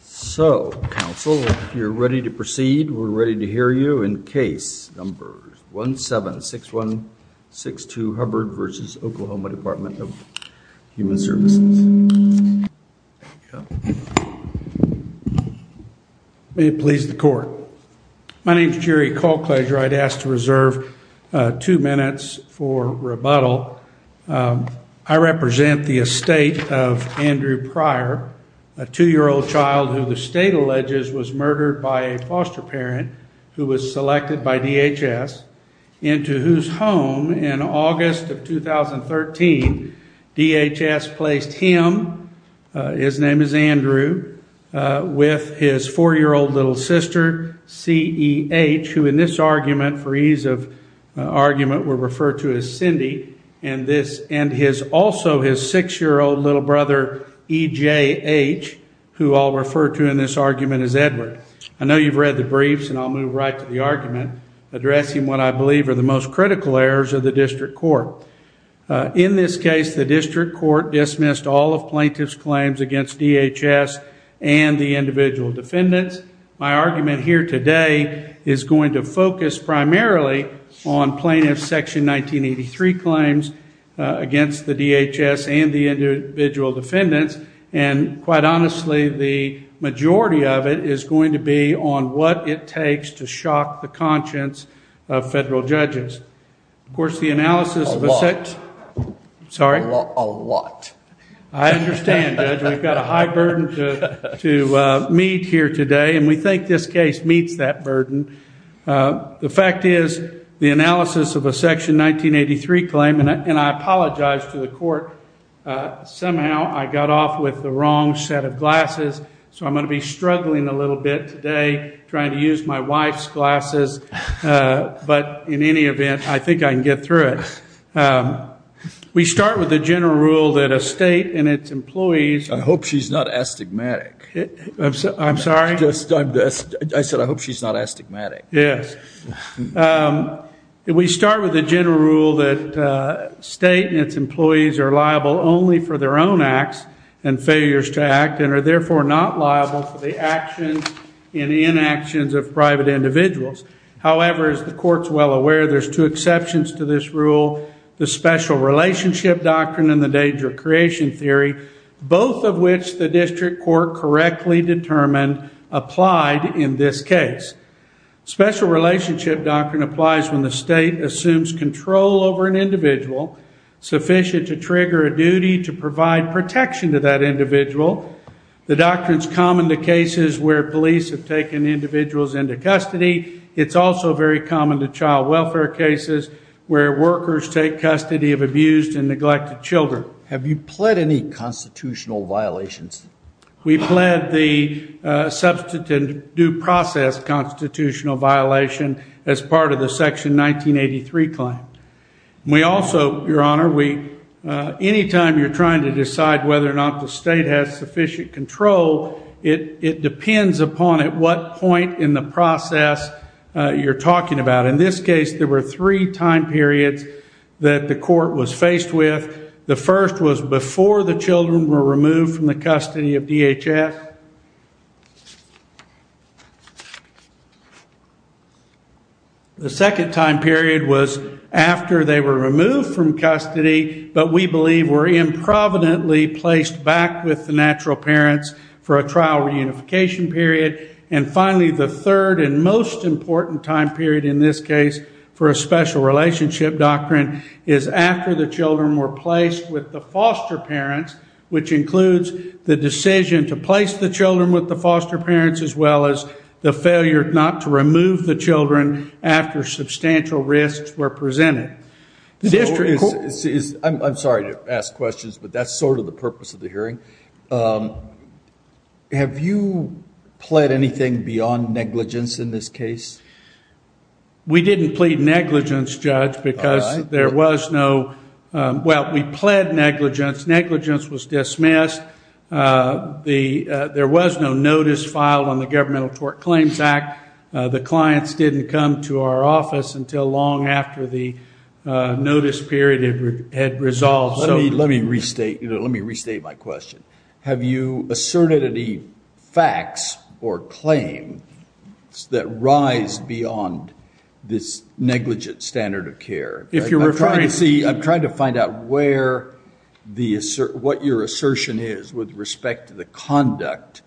So, counsel, if you're ready to proceed, we're ready to hear you in case number 176162 Hubbard v. OK Dept. of Human Services. May it please the Court. My name is Jerry Colclager. I'd ask to reserve two minutes for rebuttal. I represent the estate of Andrew Pryor, a two-year-old child who the state alleges was murdered by a foster parent who was selected by DHS, into whose home, in August of 2013, DHS placed him, his name is Andrew, with his four-year-old little sister, C.E.H., who in this argument, for ease of argument, we'll refer to as Cindy, and also his six-year-old little brother, E.J.H., who I'll refer to in this argument as Edward. I know you've read the briefs, and I'll move right to the argument, addressing what I believe are the most critical errors of the district court. In this case, the district court dismissed all of plaintiff's claims against DHS and the individual defendants. My argument here today is going to focus primarily on plaintiff's Section 1983 claims against the DHS and the individual defendants, and quite honestly, the majority of it is going to be on what it takes to shock the conscience of federal judges. Of course, the analysis of a sect- A lot. Sorry? A lot. I understand, Judge. We've got a high burden to meet here today, and we think this case meets that burden. The fact is, the analysis of a Section 1983 claim, and I apologize to the court, somehow I got off with the wrong set of glasses, so I'm going to be struggling a little bit today, trying to use my wife's glasses, but in any event, I think I can get through it. We start with the general rule that a state and its employees- I hope she's not astigmatic. I'm sorry? I said, I hope she's not astigmatic. Yes. We start with the general rule that a state and its employees are liable only for their own acts and failures to act, and are therefore not liable for the actions and inactions of private individuals. However, as the court's well aware, there's two exceptions to this rule, the special relationship doctrine and the danger of creation theory, both of which the district court correctly determined applied in this case. Special relationship doctrine applies when the state assumes control over an individual sufficient to trigger a duty to provide protection to that individual. The doctrine's common to cases where police have taken individuals into custody. It's also very common to child welfare cases where workers take custody of abused and neglected children. Your Honor, have you pled any constitutional violations? We pled the substantive due process constitutional violation as part of the Section 1983 claim. We also, Your Honor, any time you're trying to decide whether or not the state has sufficient control, it depends upon at what point in the process you're talking about. In this case, there were three time periods that the court was faced with. The first was before the children were removed from the custody of DHS. The second time period was after they were removed from custody, but we believe were improvidently placed back with the natural parents for a trial reunification period. And finally, the third and most important time period in this case for a special relationship doctrine is after the children were placed with the foster parents, which includes the decision to place the children with the foster parents as well as the failure not to remove the children after substantial risks were presented. I'm sorry to ask questions, but that's sort of the purpose of the hearing. Have you pled anything beyond negligence in this case? We didn't plead negligence, Judge, because there was no – well, we pled negligence. Negligence was dismissed. There was no notice filed on the Governmental Tort Claims Act. The clients didn't come to our office until long after the notice period had resolved. Let me restate my question. Have you asserted any facts or claims that rise beyond this negligent standard of care? I'm trying to find out what your assertion is with respect to the conduct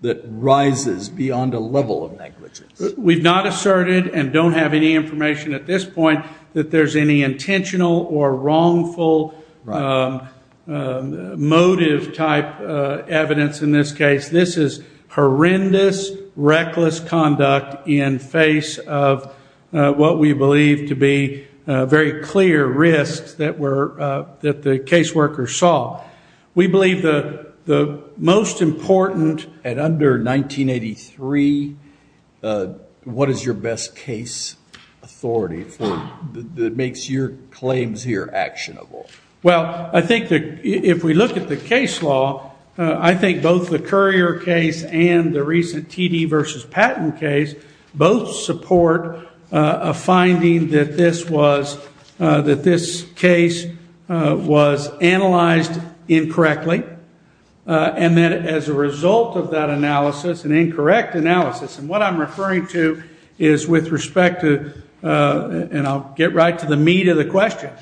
that rises beyond a level of negligence. We've not asserted and don't have any information at this point that there's any intentional or wrongful motive-type evidence in this case. This is horrendous, reckless conduct in face of what we believe to be very clear risks that the caseworker saw. We believe the most important – And under 1983, what is your best case authority that makes your claims here actionable? Well, I think that if we look at the case law, I think both the Currier case and the recent TD v. Patton case both support a finding that this case was analyzed incorrectly. And that as a result of that analysis, an incorrect analysis, and what I'm referring to is with respect to – and I'll get right to the meat of the question.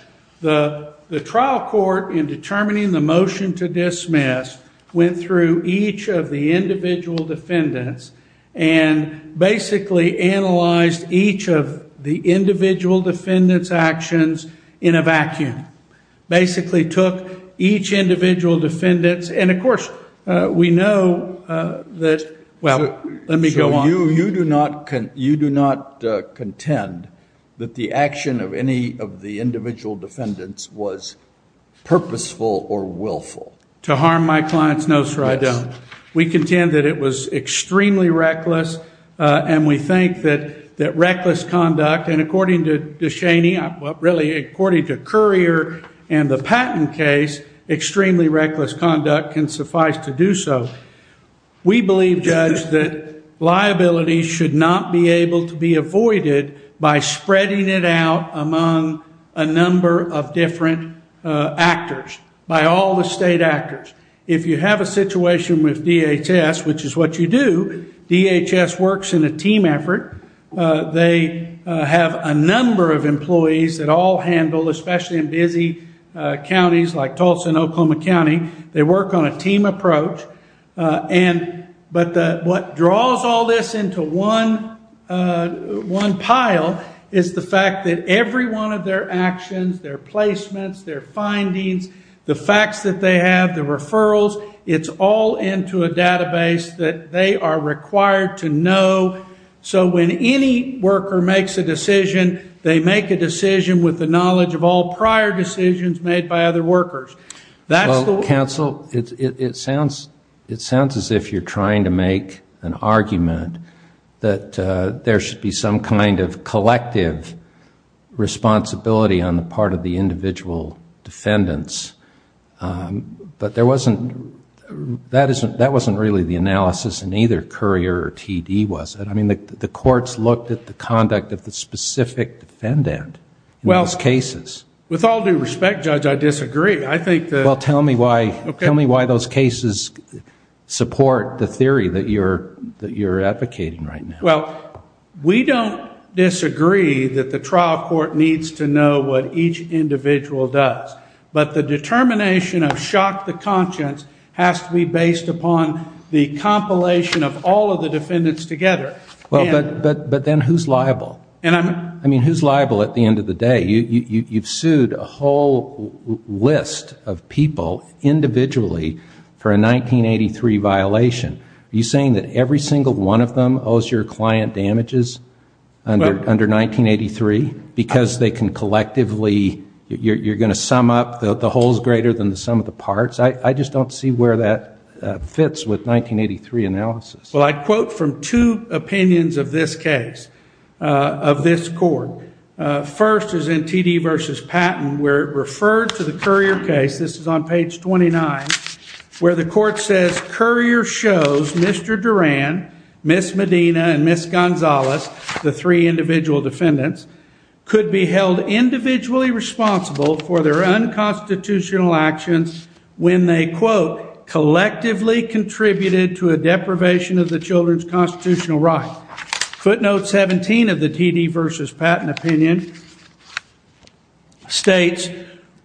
The trial court, in determining the motion to dismiss, went through each of the individual defendants and basically analyzed each of the individual defendants' actions in a vacuum. Basically took each individual defendants, and of course, we know that – well, let me go on. So you do not contend that the action of any of the individual defendants was purposeful or willful? To harm my clients, no, sir, I don't. We contend that it was extremely reckless, and we think that reckless conduct – and according to DeShaney – well, really, according to Currier and the Patton case, extremely reckless conduct can suffice to do so. We believe, Judge, that liability should not be able to be avoided by spreading it out among a number of different actors, by all the state actors. If you have a situation with DHS, which is what you do, DHS works in a team effort. They have a number of employees that all handle, especially in busy counties like Tulsa and Oklahoma County, they work on a team approach. But what draws all this into one pile is the fact that every one of their actions, their placements, their findings, the facts that they have, the referrals, it's all into a database that they are required to know. So when any worker makes a decision, they make a decision with the knowledge of all prior decisions made by other workers. Well, counsel, it sounds as if you're trying to make an argument that there should be some kind of collective responsibility on the part of the individual defendants. But that wasn't really the analysis in either Currier or TD, was it? I mean, the courts looked at the conduct of the specific defendant in those cases. Well, with all due respect, Judge, I disagree. Well, tell me why those cases support the theory that you're advocating right now. Well, we don't disagree that the trial court needs to know what each individual does. But the determination of shock to conscience has to be based upon the compilation of all of the defendants together. But then who's liable? I mean, who's liable at the end of the day? You've sued a whole list of people individually for a 1983 violation. Are you saying that every single one of them owes your client damages under 1983? Because they can collectively, you're going to sum up the whole is greater than the sum of the parts? I just don't see where that fits with 1983 analysis. Well, I'd quote from two opinions of this case, of this court. First is in TD v. Patton, where it referred to the Currier case. This is on page 29, where the court says, Currier shows Mr. Duran, Ms. Medina, and Ms. Gonzalez, the three individual defendants, could be held individually responsible for their unconstitutional actions when they, quote, collectively contributed to a deprivation of the children's constitutional right. Footnote 17 of the TD v. Patton opinion states,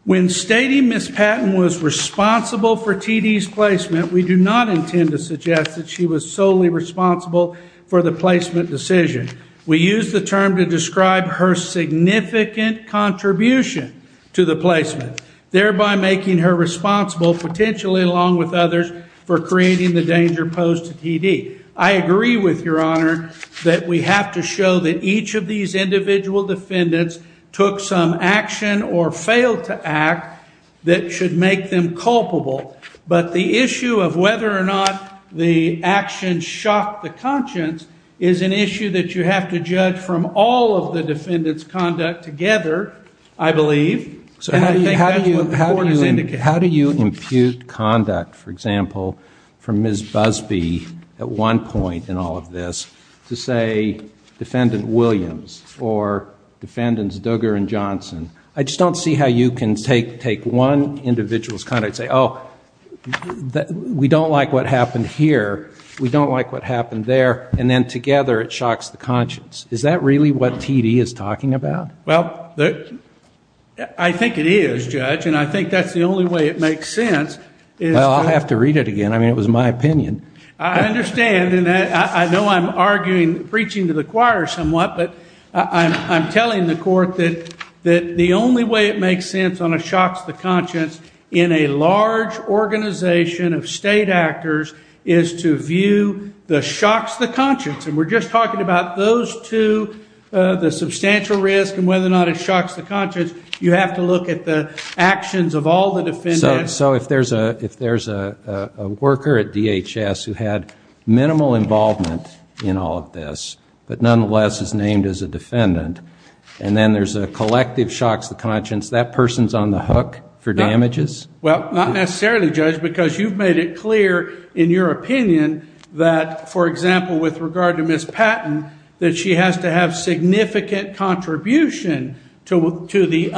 When stating Ms. Patton was responsible for TD's placement, we do not intend to suggest that she was solely responsible for the placement decision. We use the term to describe her significant contribution to the placement, thereby making her responsible, potentially along with others, for creating the danger posed to TD. I agree with Your Honor that we have to show that each of these individual defendants took some action or failed to act that should make them culpable. But the issue of whether or not the actions shocked the conscience is an issue that you have to judge from all of the defendants' conduct together, I believe. And I think that's what the court has indicated. How do you impute conduct, for example, for Ms. Busbee at one point in all of this, to say Defendant Williams or Defendants Duggar and Johnson? I just don't see how you can take one individual's conduct and say, Oh, we don't like what happened here, we don't like what happened there, and then together it shocks the conscience. Is that really what TD is talking about? Well, I think it is, Judge, and I think that's the only way it makes sense. Well, I'll have to read it again. I mean, it was my opinion. I understand, and I know I'm arguing, preaching to the choir somewhat, but I'm telling the court that the only way it makes sense on a shocks the conscience in a large organization of state actors is to view the shocks the conscience. And we're just talking about those two, the substantial risk and whether or not it shocks the conscience. You have to look at the actions of all the defendants. So if there's a worker at DHS who had minimal involvement in all of this but nonetheless is named as a defendant, and then there's a collective shocks the conscience, that person's on the hook for damages? Well, not necessarily, Judge, because you've made it clear in your opinion that, for example, with regard to Ms. Patton, that she has to have significant contribution to the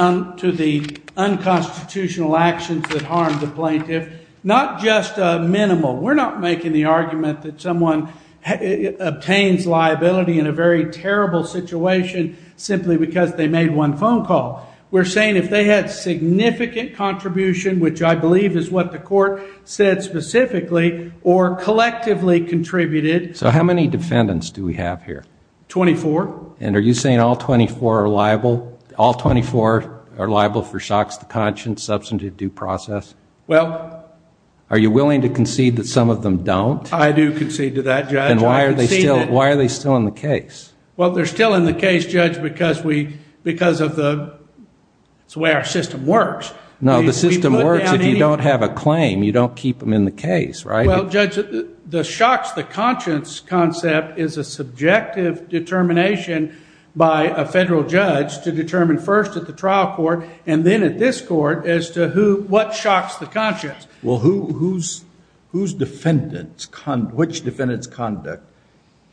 unconstitutional actions that harmed the plaintiff, not just minimal. We're not making the argument that someone obtains liability in a very terrible situation simply because they made one phone call. We're saying if they had significant contribution, which I believe is what the court said specifically or collectively contributed. So how many defendants do we have here? Twenty-four. And are you saying all 24 are liable? All 24 are liable for shocks the conscience, substantive due process? Well. Are you willing to concede that some of them don't? I do concede to that, Judge. Then why are they still in the case? Well, they're still in the case, Judge, because of the way our system works. No, the system works if you don't have a claim. You don't keep them in the case, right? Well, Judge, the shocks the conscience concept is a subjective determination by a federal judge to determine first at the trial court and then at this court as to what shocks the conscience. Well, whose defendants, which defendants' conduct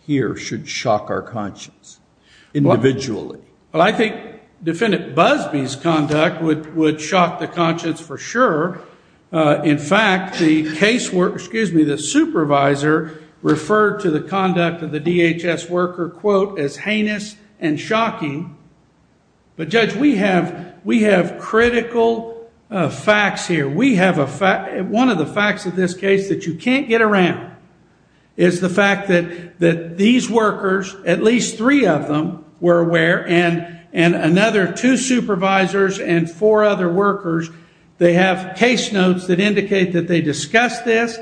here should shock our conscience individually? Well, I think Defendant Busbee's conduct would shock the conscience for sure. In fact, the supervisor referred to the conduct of the DHS worker, quote, as heinous and shocking. But, Judge, we have critical facts here. One of the facts of this case that you can't get around is the fact that these workers, at least three of them were aware, and another two supervisors and four other workers, they have case notes that indicate that they discussed this.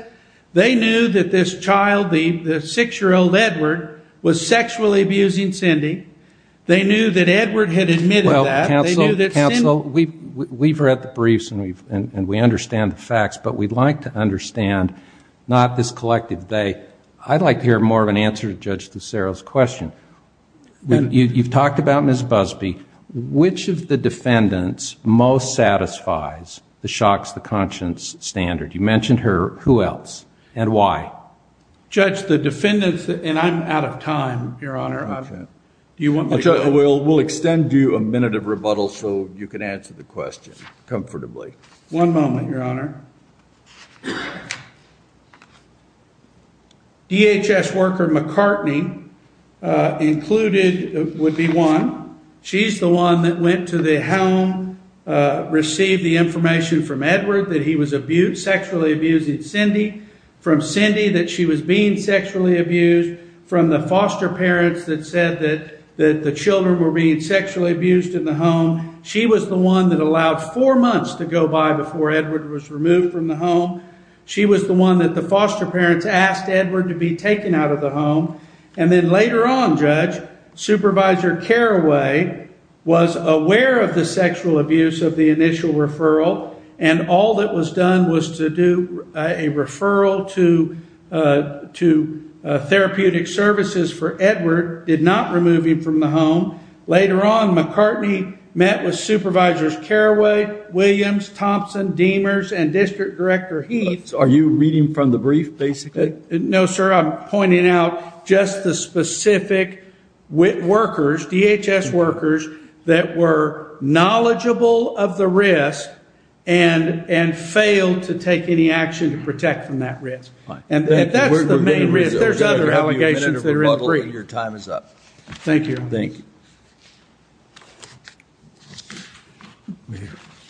They knew that this child, the 6-year-old Edward, was sexually abusing Cindy. They knew that Edward had admitted that. Well, counsel, we've read the briefs and we understand the facts, but we'd like to understand not this collective they. I'd like to hear more of an answer to Judge DeSero's question. You've talked about Ms. Busbee. Which of the defendants most satisfies the shocks the conscience standard? You mentioned her. Who else and why? Judge, the defendants, and I'm out of time, Your Honor. We'll extend due a minute of rebuttal so you can answer the question comfortably. One moment, Your Honor. DHS worker McCartney included would be one. She's the one that went to the home, received the information from Edward that he was sexually abusing Cindy, from Cindy that she was being sexually abused, from the foster parents that said that the children were being sexually abused in the home. She was the one that allowed four months to go by before Edward was removed from the home. She was the one that the foster parents asked Edward to be taken out of the home. And then later on, Judge, Supervisor Carraway was aware of the sexual abuse of the initial referral, and all that was done was to do a referral to therapeutic services for Edward, did not remove him from the home. Later on, McCartney met with Supervisors Carraway, Williams, Thompson, Demers, and District Director Heath. Are you reading from the brief, basically? No, sir. I'm pointing out just the specific workers, DHS workers, that were knowledgeable of the risk and failed to take any action to protect from that risk. And that's the main risk. There's other allegations that are in the brief. Your time is up. Thank you. Thank you.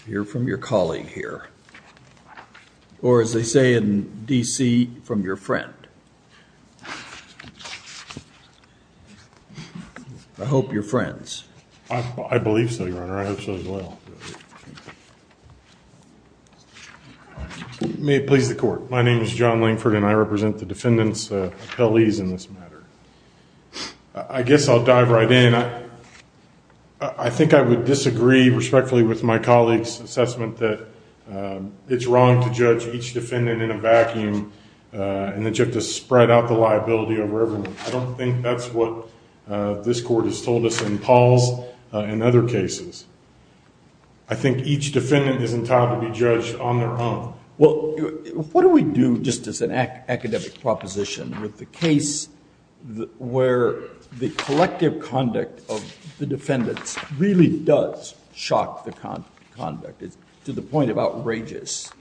Hear from your colleague here. Or as they say in D.C., from your friend. I hope you're friends. I believe so, Your Honor. I hope so as well. May it please the Court. My name is John Langford, and I represent the defendant's appellees in this matter. I guess I'll dive right in. I think I would disagree respectfully with my colleague's assessment that it's wrong to judge each defendant in a vacuum and that you have to spread out the liability over everyone. I don't think that's what this Court has told us in Paul's and other cases. I think each defendant is entitled to be judged on their own. Well, what do we do just as an academic proposition with the case where the collective conduct of the defendants really does shock the conduct? It's to the point of outrageous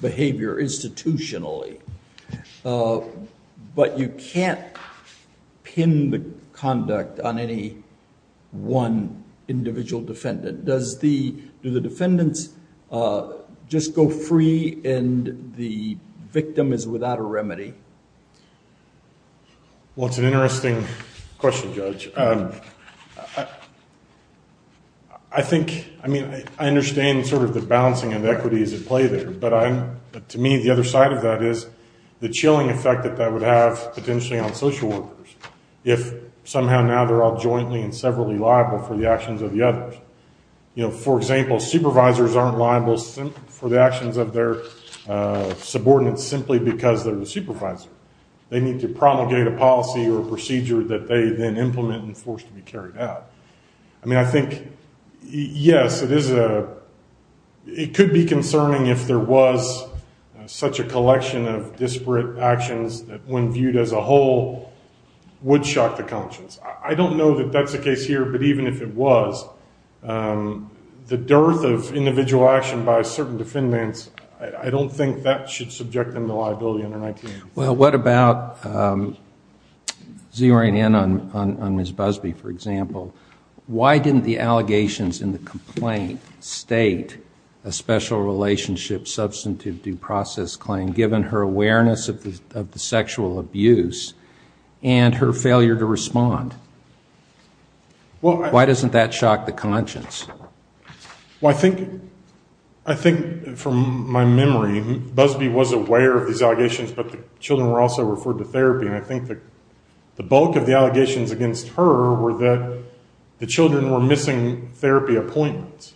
behavior institutionally. But you can't pin the conduct on any one individual defendant. Do the defendants just go free and the victim is without a remedy? Well, it's an interesting question, Judge. I think, I mean, I understand sort of the balancing inequities at play there, but to me the other side of that is the chilling effect that that would have potentially on social workers if somehow now they're all jointly and severally liable for the actions of the others. You know, for example, supervisors aren't liable for the actions of their subordinates simply because they're the supervisor. They need to promulgate a policy or a procedure that they then implement and force to be carried out. I mean, I think, yes, it could be concerning if there was such a collection of disparate actions that when viewed as a whole would shock the conscience. I don't know that that's the case here, but even if it was, the dearth of individual action by certain defendants, I don't think that should subject them to liability under 19. Well, what about zeroing in on Ms. Busby, for example? Why didn't the allegations in the complaint state a special relationship substantive due process claim, given her awareness of the sexual abuse and her failure to respond? Well, I think from my memory, Busby was aware of these allegations, but the children were also referred to therapy. And I think the bulk of the allegations against her were that the children were missing therapy appointments.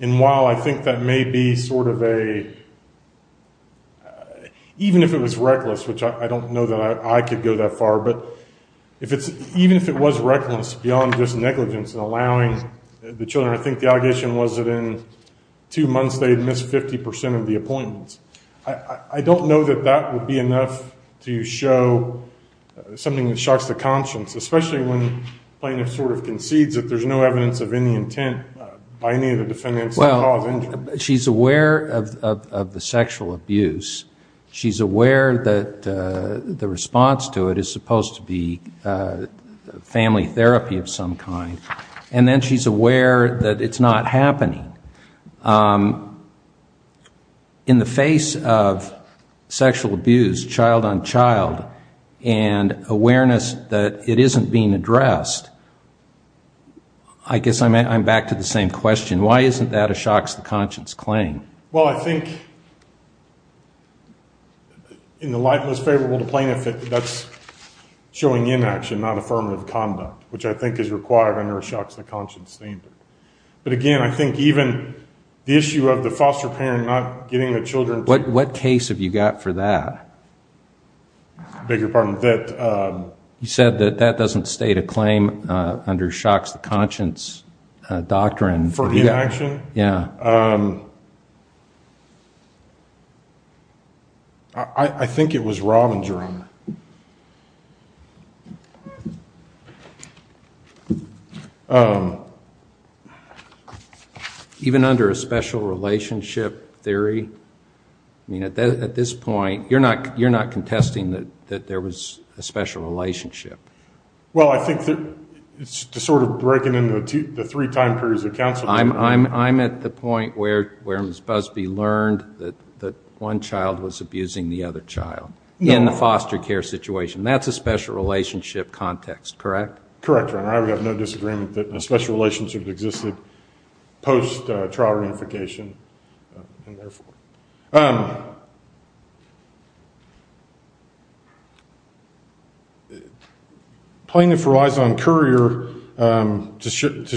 And while I think that may be sort of a – even if it was reckless, which I don't know that I could go that far, but even if it was reckless beyond just negligence in allowing the children – I think the allegation was that in two months they had missed 50 percent of the appointments. I don't know that that would be enough to show something that shocks the conscience, especially when plaintiff sort of concedes that there's no evidence of any intent by any of the defendants to cause injury. She's aware of the sexual abuse. She's aware that the response to it is supposed to be family therapy of some kind. And then she's aware that it's not happening. In the face of sexual abuse, child on child, and awareness that it isn't being addressed, I guess I'm back to the same question. Why isn't that a shocks the conscience claim? Well, I think in the light that's favorable to plaintiff, that's showing inaction, not affirmative conduct, which I think is required under a shocks the conscience standard. But again, I think even the issue of the foster parent not getting the children to – What case have you got for that? I beg your pardon? You said that that doesn't state a claim under shocks the conscience doctrine. For inaction? Yeah. I think it was Rob and Jerome. Even under a special relationship theory? I mean, at this point, you're not contesting that there was a special relationship. Well, I think it's sort of breaking into the three time periods of counsel. I'm at the point where Ms. Busby learned that one child was abusing the other child in the foster care situation. That's a special relationship context, correct? Correct, Your Honor. I would have no disagreement that a special relationship existed post-trial reunification and therefore. Plaintiff relies on Courier to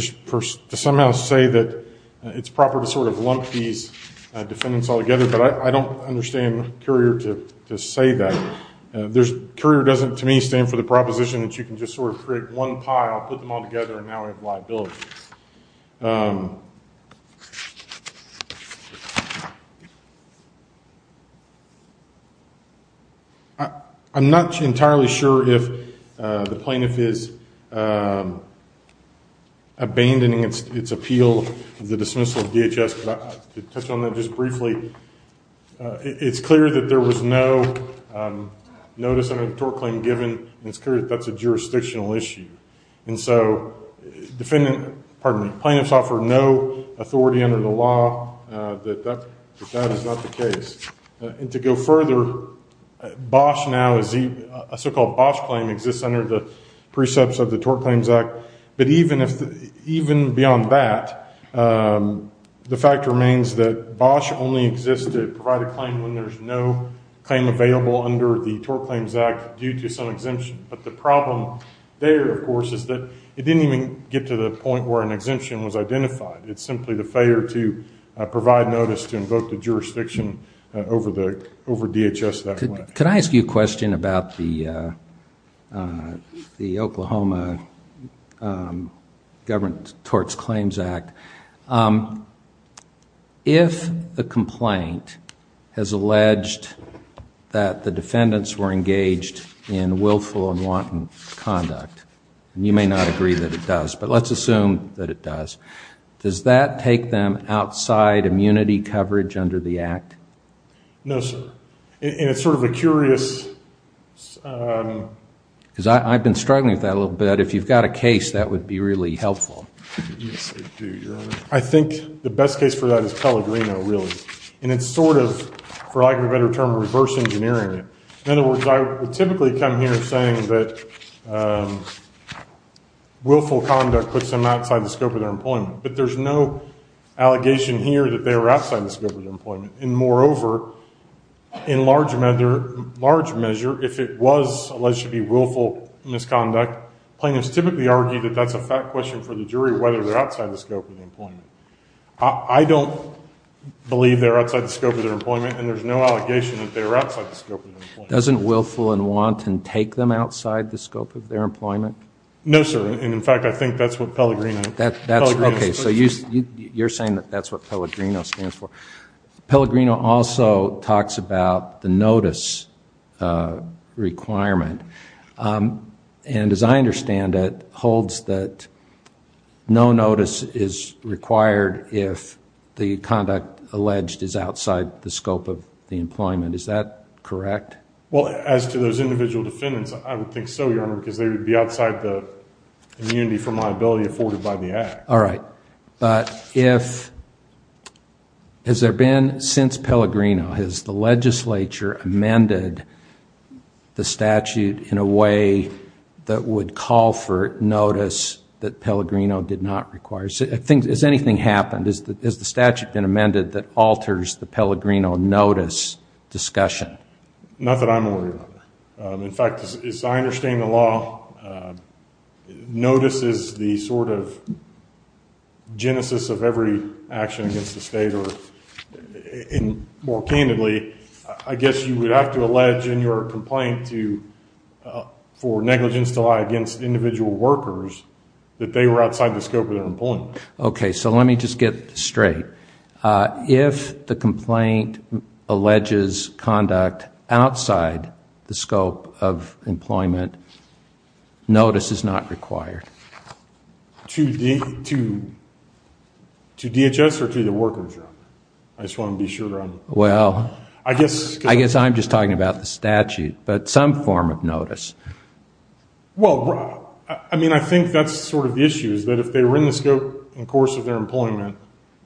somehow say that it's proper to sort of lump these defendants all together, but I don't understand Courier to say that. Courier doesn't, to me, stand for the proposition that you can just sort of create one pile, put them all together, and now we have liability. I'm not entirely sure if the plaintiff is abandoning its appeal of the dismissal of DHS, but to touch on that just briefly, it's clear that there was no notice under the tort claim given, and it's clear that that's a jurisdictional issue. And so plaintiffs offer no authority under the law that that is not the case. And to go further, a so-called Bosch claim exists under the precepts of the Tort Claims Act, but even beyond that, the fact remains that Bosch only exists to provide a claim when there's no claim available under the Tort Claims Act due to some exemption. But the problem there, of course, is that it didn't even get to the point where an exemption was identified. It's simply the failure to provide notice to invoke the jurisdiction over DHS that way. Could I ask you a question about the Oklahoma Government Tort Claims Act? If the complaint has alleged that the defendants were engaged in willful and wanton conduct, and you may not agree that it does, but let's assume that it does, does that take them outside immunity coverage under the act? No, sir. And it's sort of a curious – Because I've been struggling with that a little bit. If you've got a case, that would be really helpful. I think the best case for that is Pellegrino, really. And it's sort of, for lack of a better term, reverse engineering it. In other words, I would typically come here saying that willful conduct puts them outside the scope of their employment, but there's no allegation here that they were outside the scope of their employment. And moreover, in large measure, if it was alleged to be willful misconduct, plaintiffs typically argue that that's a fact question for the jury, whether they're outside the scope of their employment. I don't believe they're outside the scope of their employment, and there's no allegation that they're outside the scope of their employment. Doesn't willful and wanton take them outside the scope of their employment? No, sir. And, in fact, I think that's what Pellegrino – Okay, so you're saying that that's what Pellegrino stands for. Pellegrino also talks about the notice requirement, and as I understand it holds that no notice is required if the conduct alleged is outside the scope of the employment. Is that correct? Well, as to those individual defendants, I would think so, Your Honor, because they would be outside the immunity from liability afforded by the act. All right. But has there been since Pellegrino, has the legislature amended the statute in a way that would call for notice that Pellegrino did not require? Has anything happened? Has the statute been amended that alters the Pellegrino notice discussion? Not that I'm aware of. In fact, as I understand the law, notice is the sort of genesis of every action against the state, or more candidly, I guess you would have to allege in your complaint for negligence to lie against individual workers that they were outside the scope of their employment. Okay, so let me just get straight. If the complaint alleges conduct outside the scope of employment, notice is not required. To DHS or to the workers, Your Honor? I just want to be sure. Well, I guess I'm just talking about the statute, but some form of notice. Well, I mean, I think that's sort of the issue, is that if they were in the scope and course of their employment,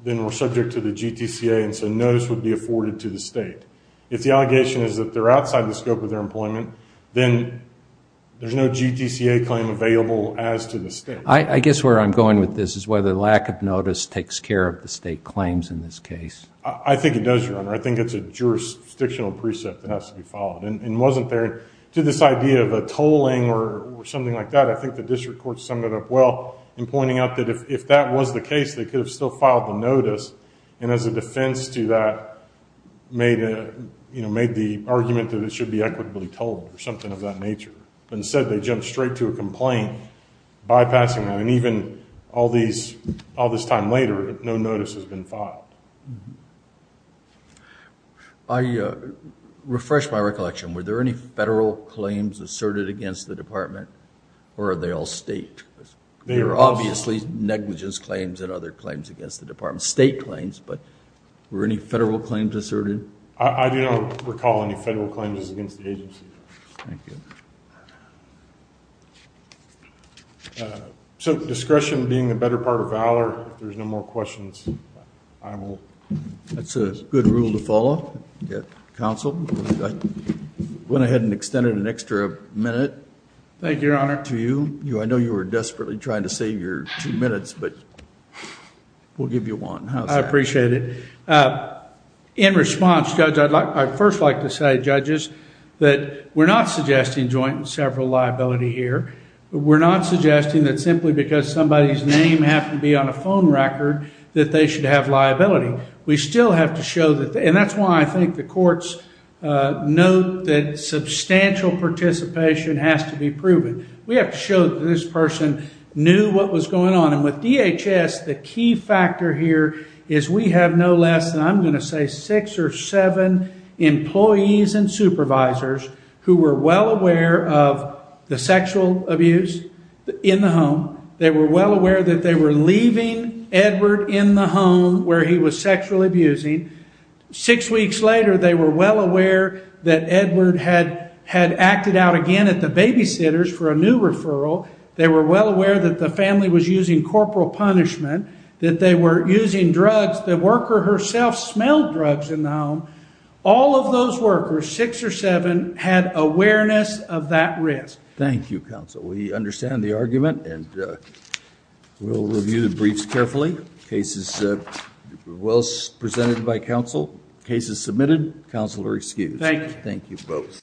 then we're subject to the GTCA, and so notice would be afforded to the state. If the allegation is that they're outside the scope of their employment, then there's no GTCA claim available as to the state. I guess where I'm going with this is whether lack of notice takes care of the state claims in this case. I think it does, Your Honor. I think it's a jurisdictional precept that has to be followed. To this idea of a tolling or something like that, I think the district court summed it up well in pointing out that if that was the case, they could have still filed the notice, and as a defense to that, made the argument that it should be equitably tolled or something of that nature. Instead, they jumped straight to a complaint, bypassing that, and even all this time later, no notice has been filed. I refresh my recollection. Were there any federal claims asserted against the department, or are they all state? They are all state. There are obviously negligence claims and other claims against the department, state claims, but were any federal claims asserted? I do not recall any federal claims against the agency. Thank you. So discretion being the better part of valor. If there's no more questions, I will close. That's a good rule to follow. Counsel, I went ahead and extended an extra minute. Thank you, Your Honor. To you. I know you were desperately trying to save your two minutes, but we'll give you one. I appreciate it. In response, Judge, I'd first like to say, judges, that we're not suggesting joint and several liability here. We're not suggesting that simply because somebody's name happened to be on a phone record that they should have liability. We still have to show that, and that's why I think the courts note that substantial participation has to be proven. We have to show that this person knew what was going on, and with DHS, the key factor here is we have no less than, I'm going to say, six or seven employees and supervisors who were well aware of the sexual abuse in the home. They were well aware that they were leaving Edward in the home where he was sexually abusing. Six weeks later, they were well aware that Edward had acted out again at the babysitters for a new referral. They were well aware that the family was using corporal punishment, that they were using drugs. The worker herself smelled drugs in the home. All of those workers, six or seven, had awareness of that risk. Thank you, counsel. We understand the argument, and we'll review the briefs carefully. The case is well presented by counsel. The case is submitted. Counsel are excused. Thank you. Thank you both.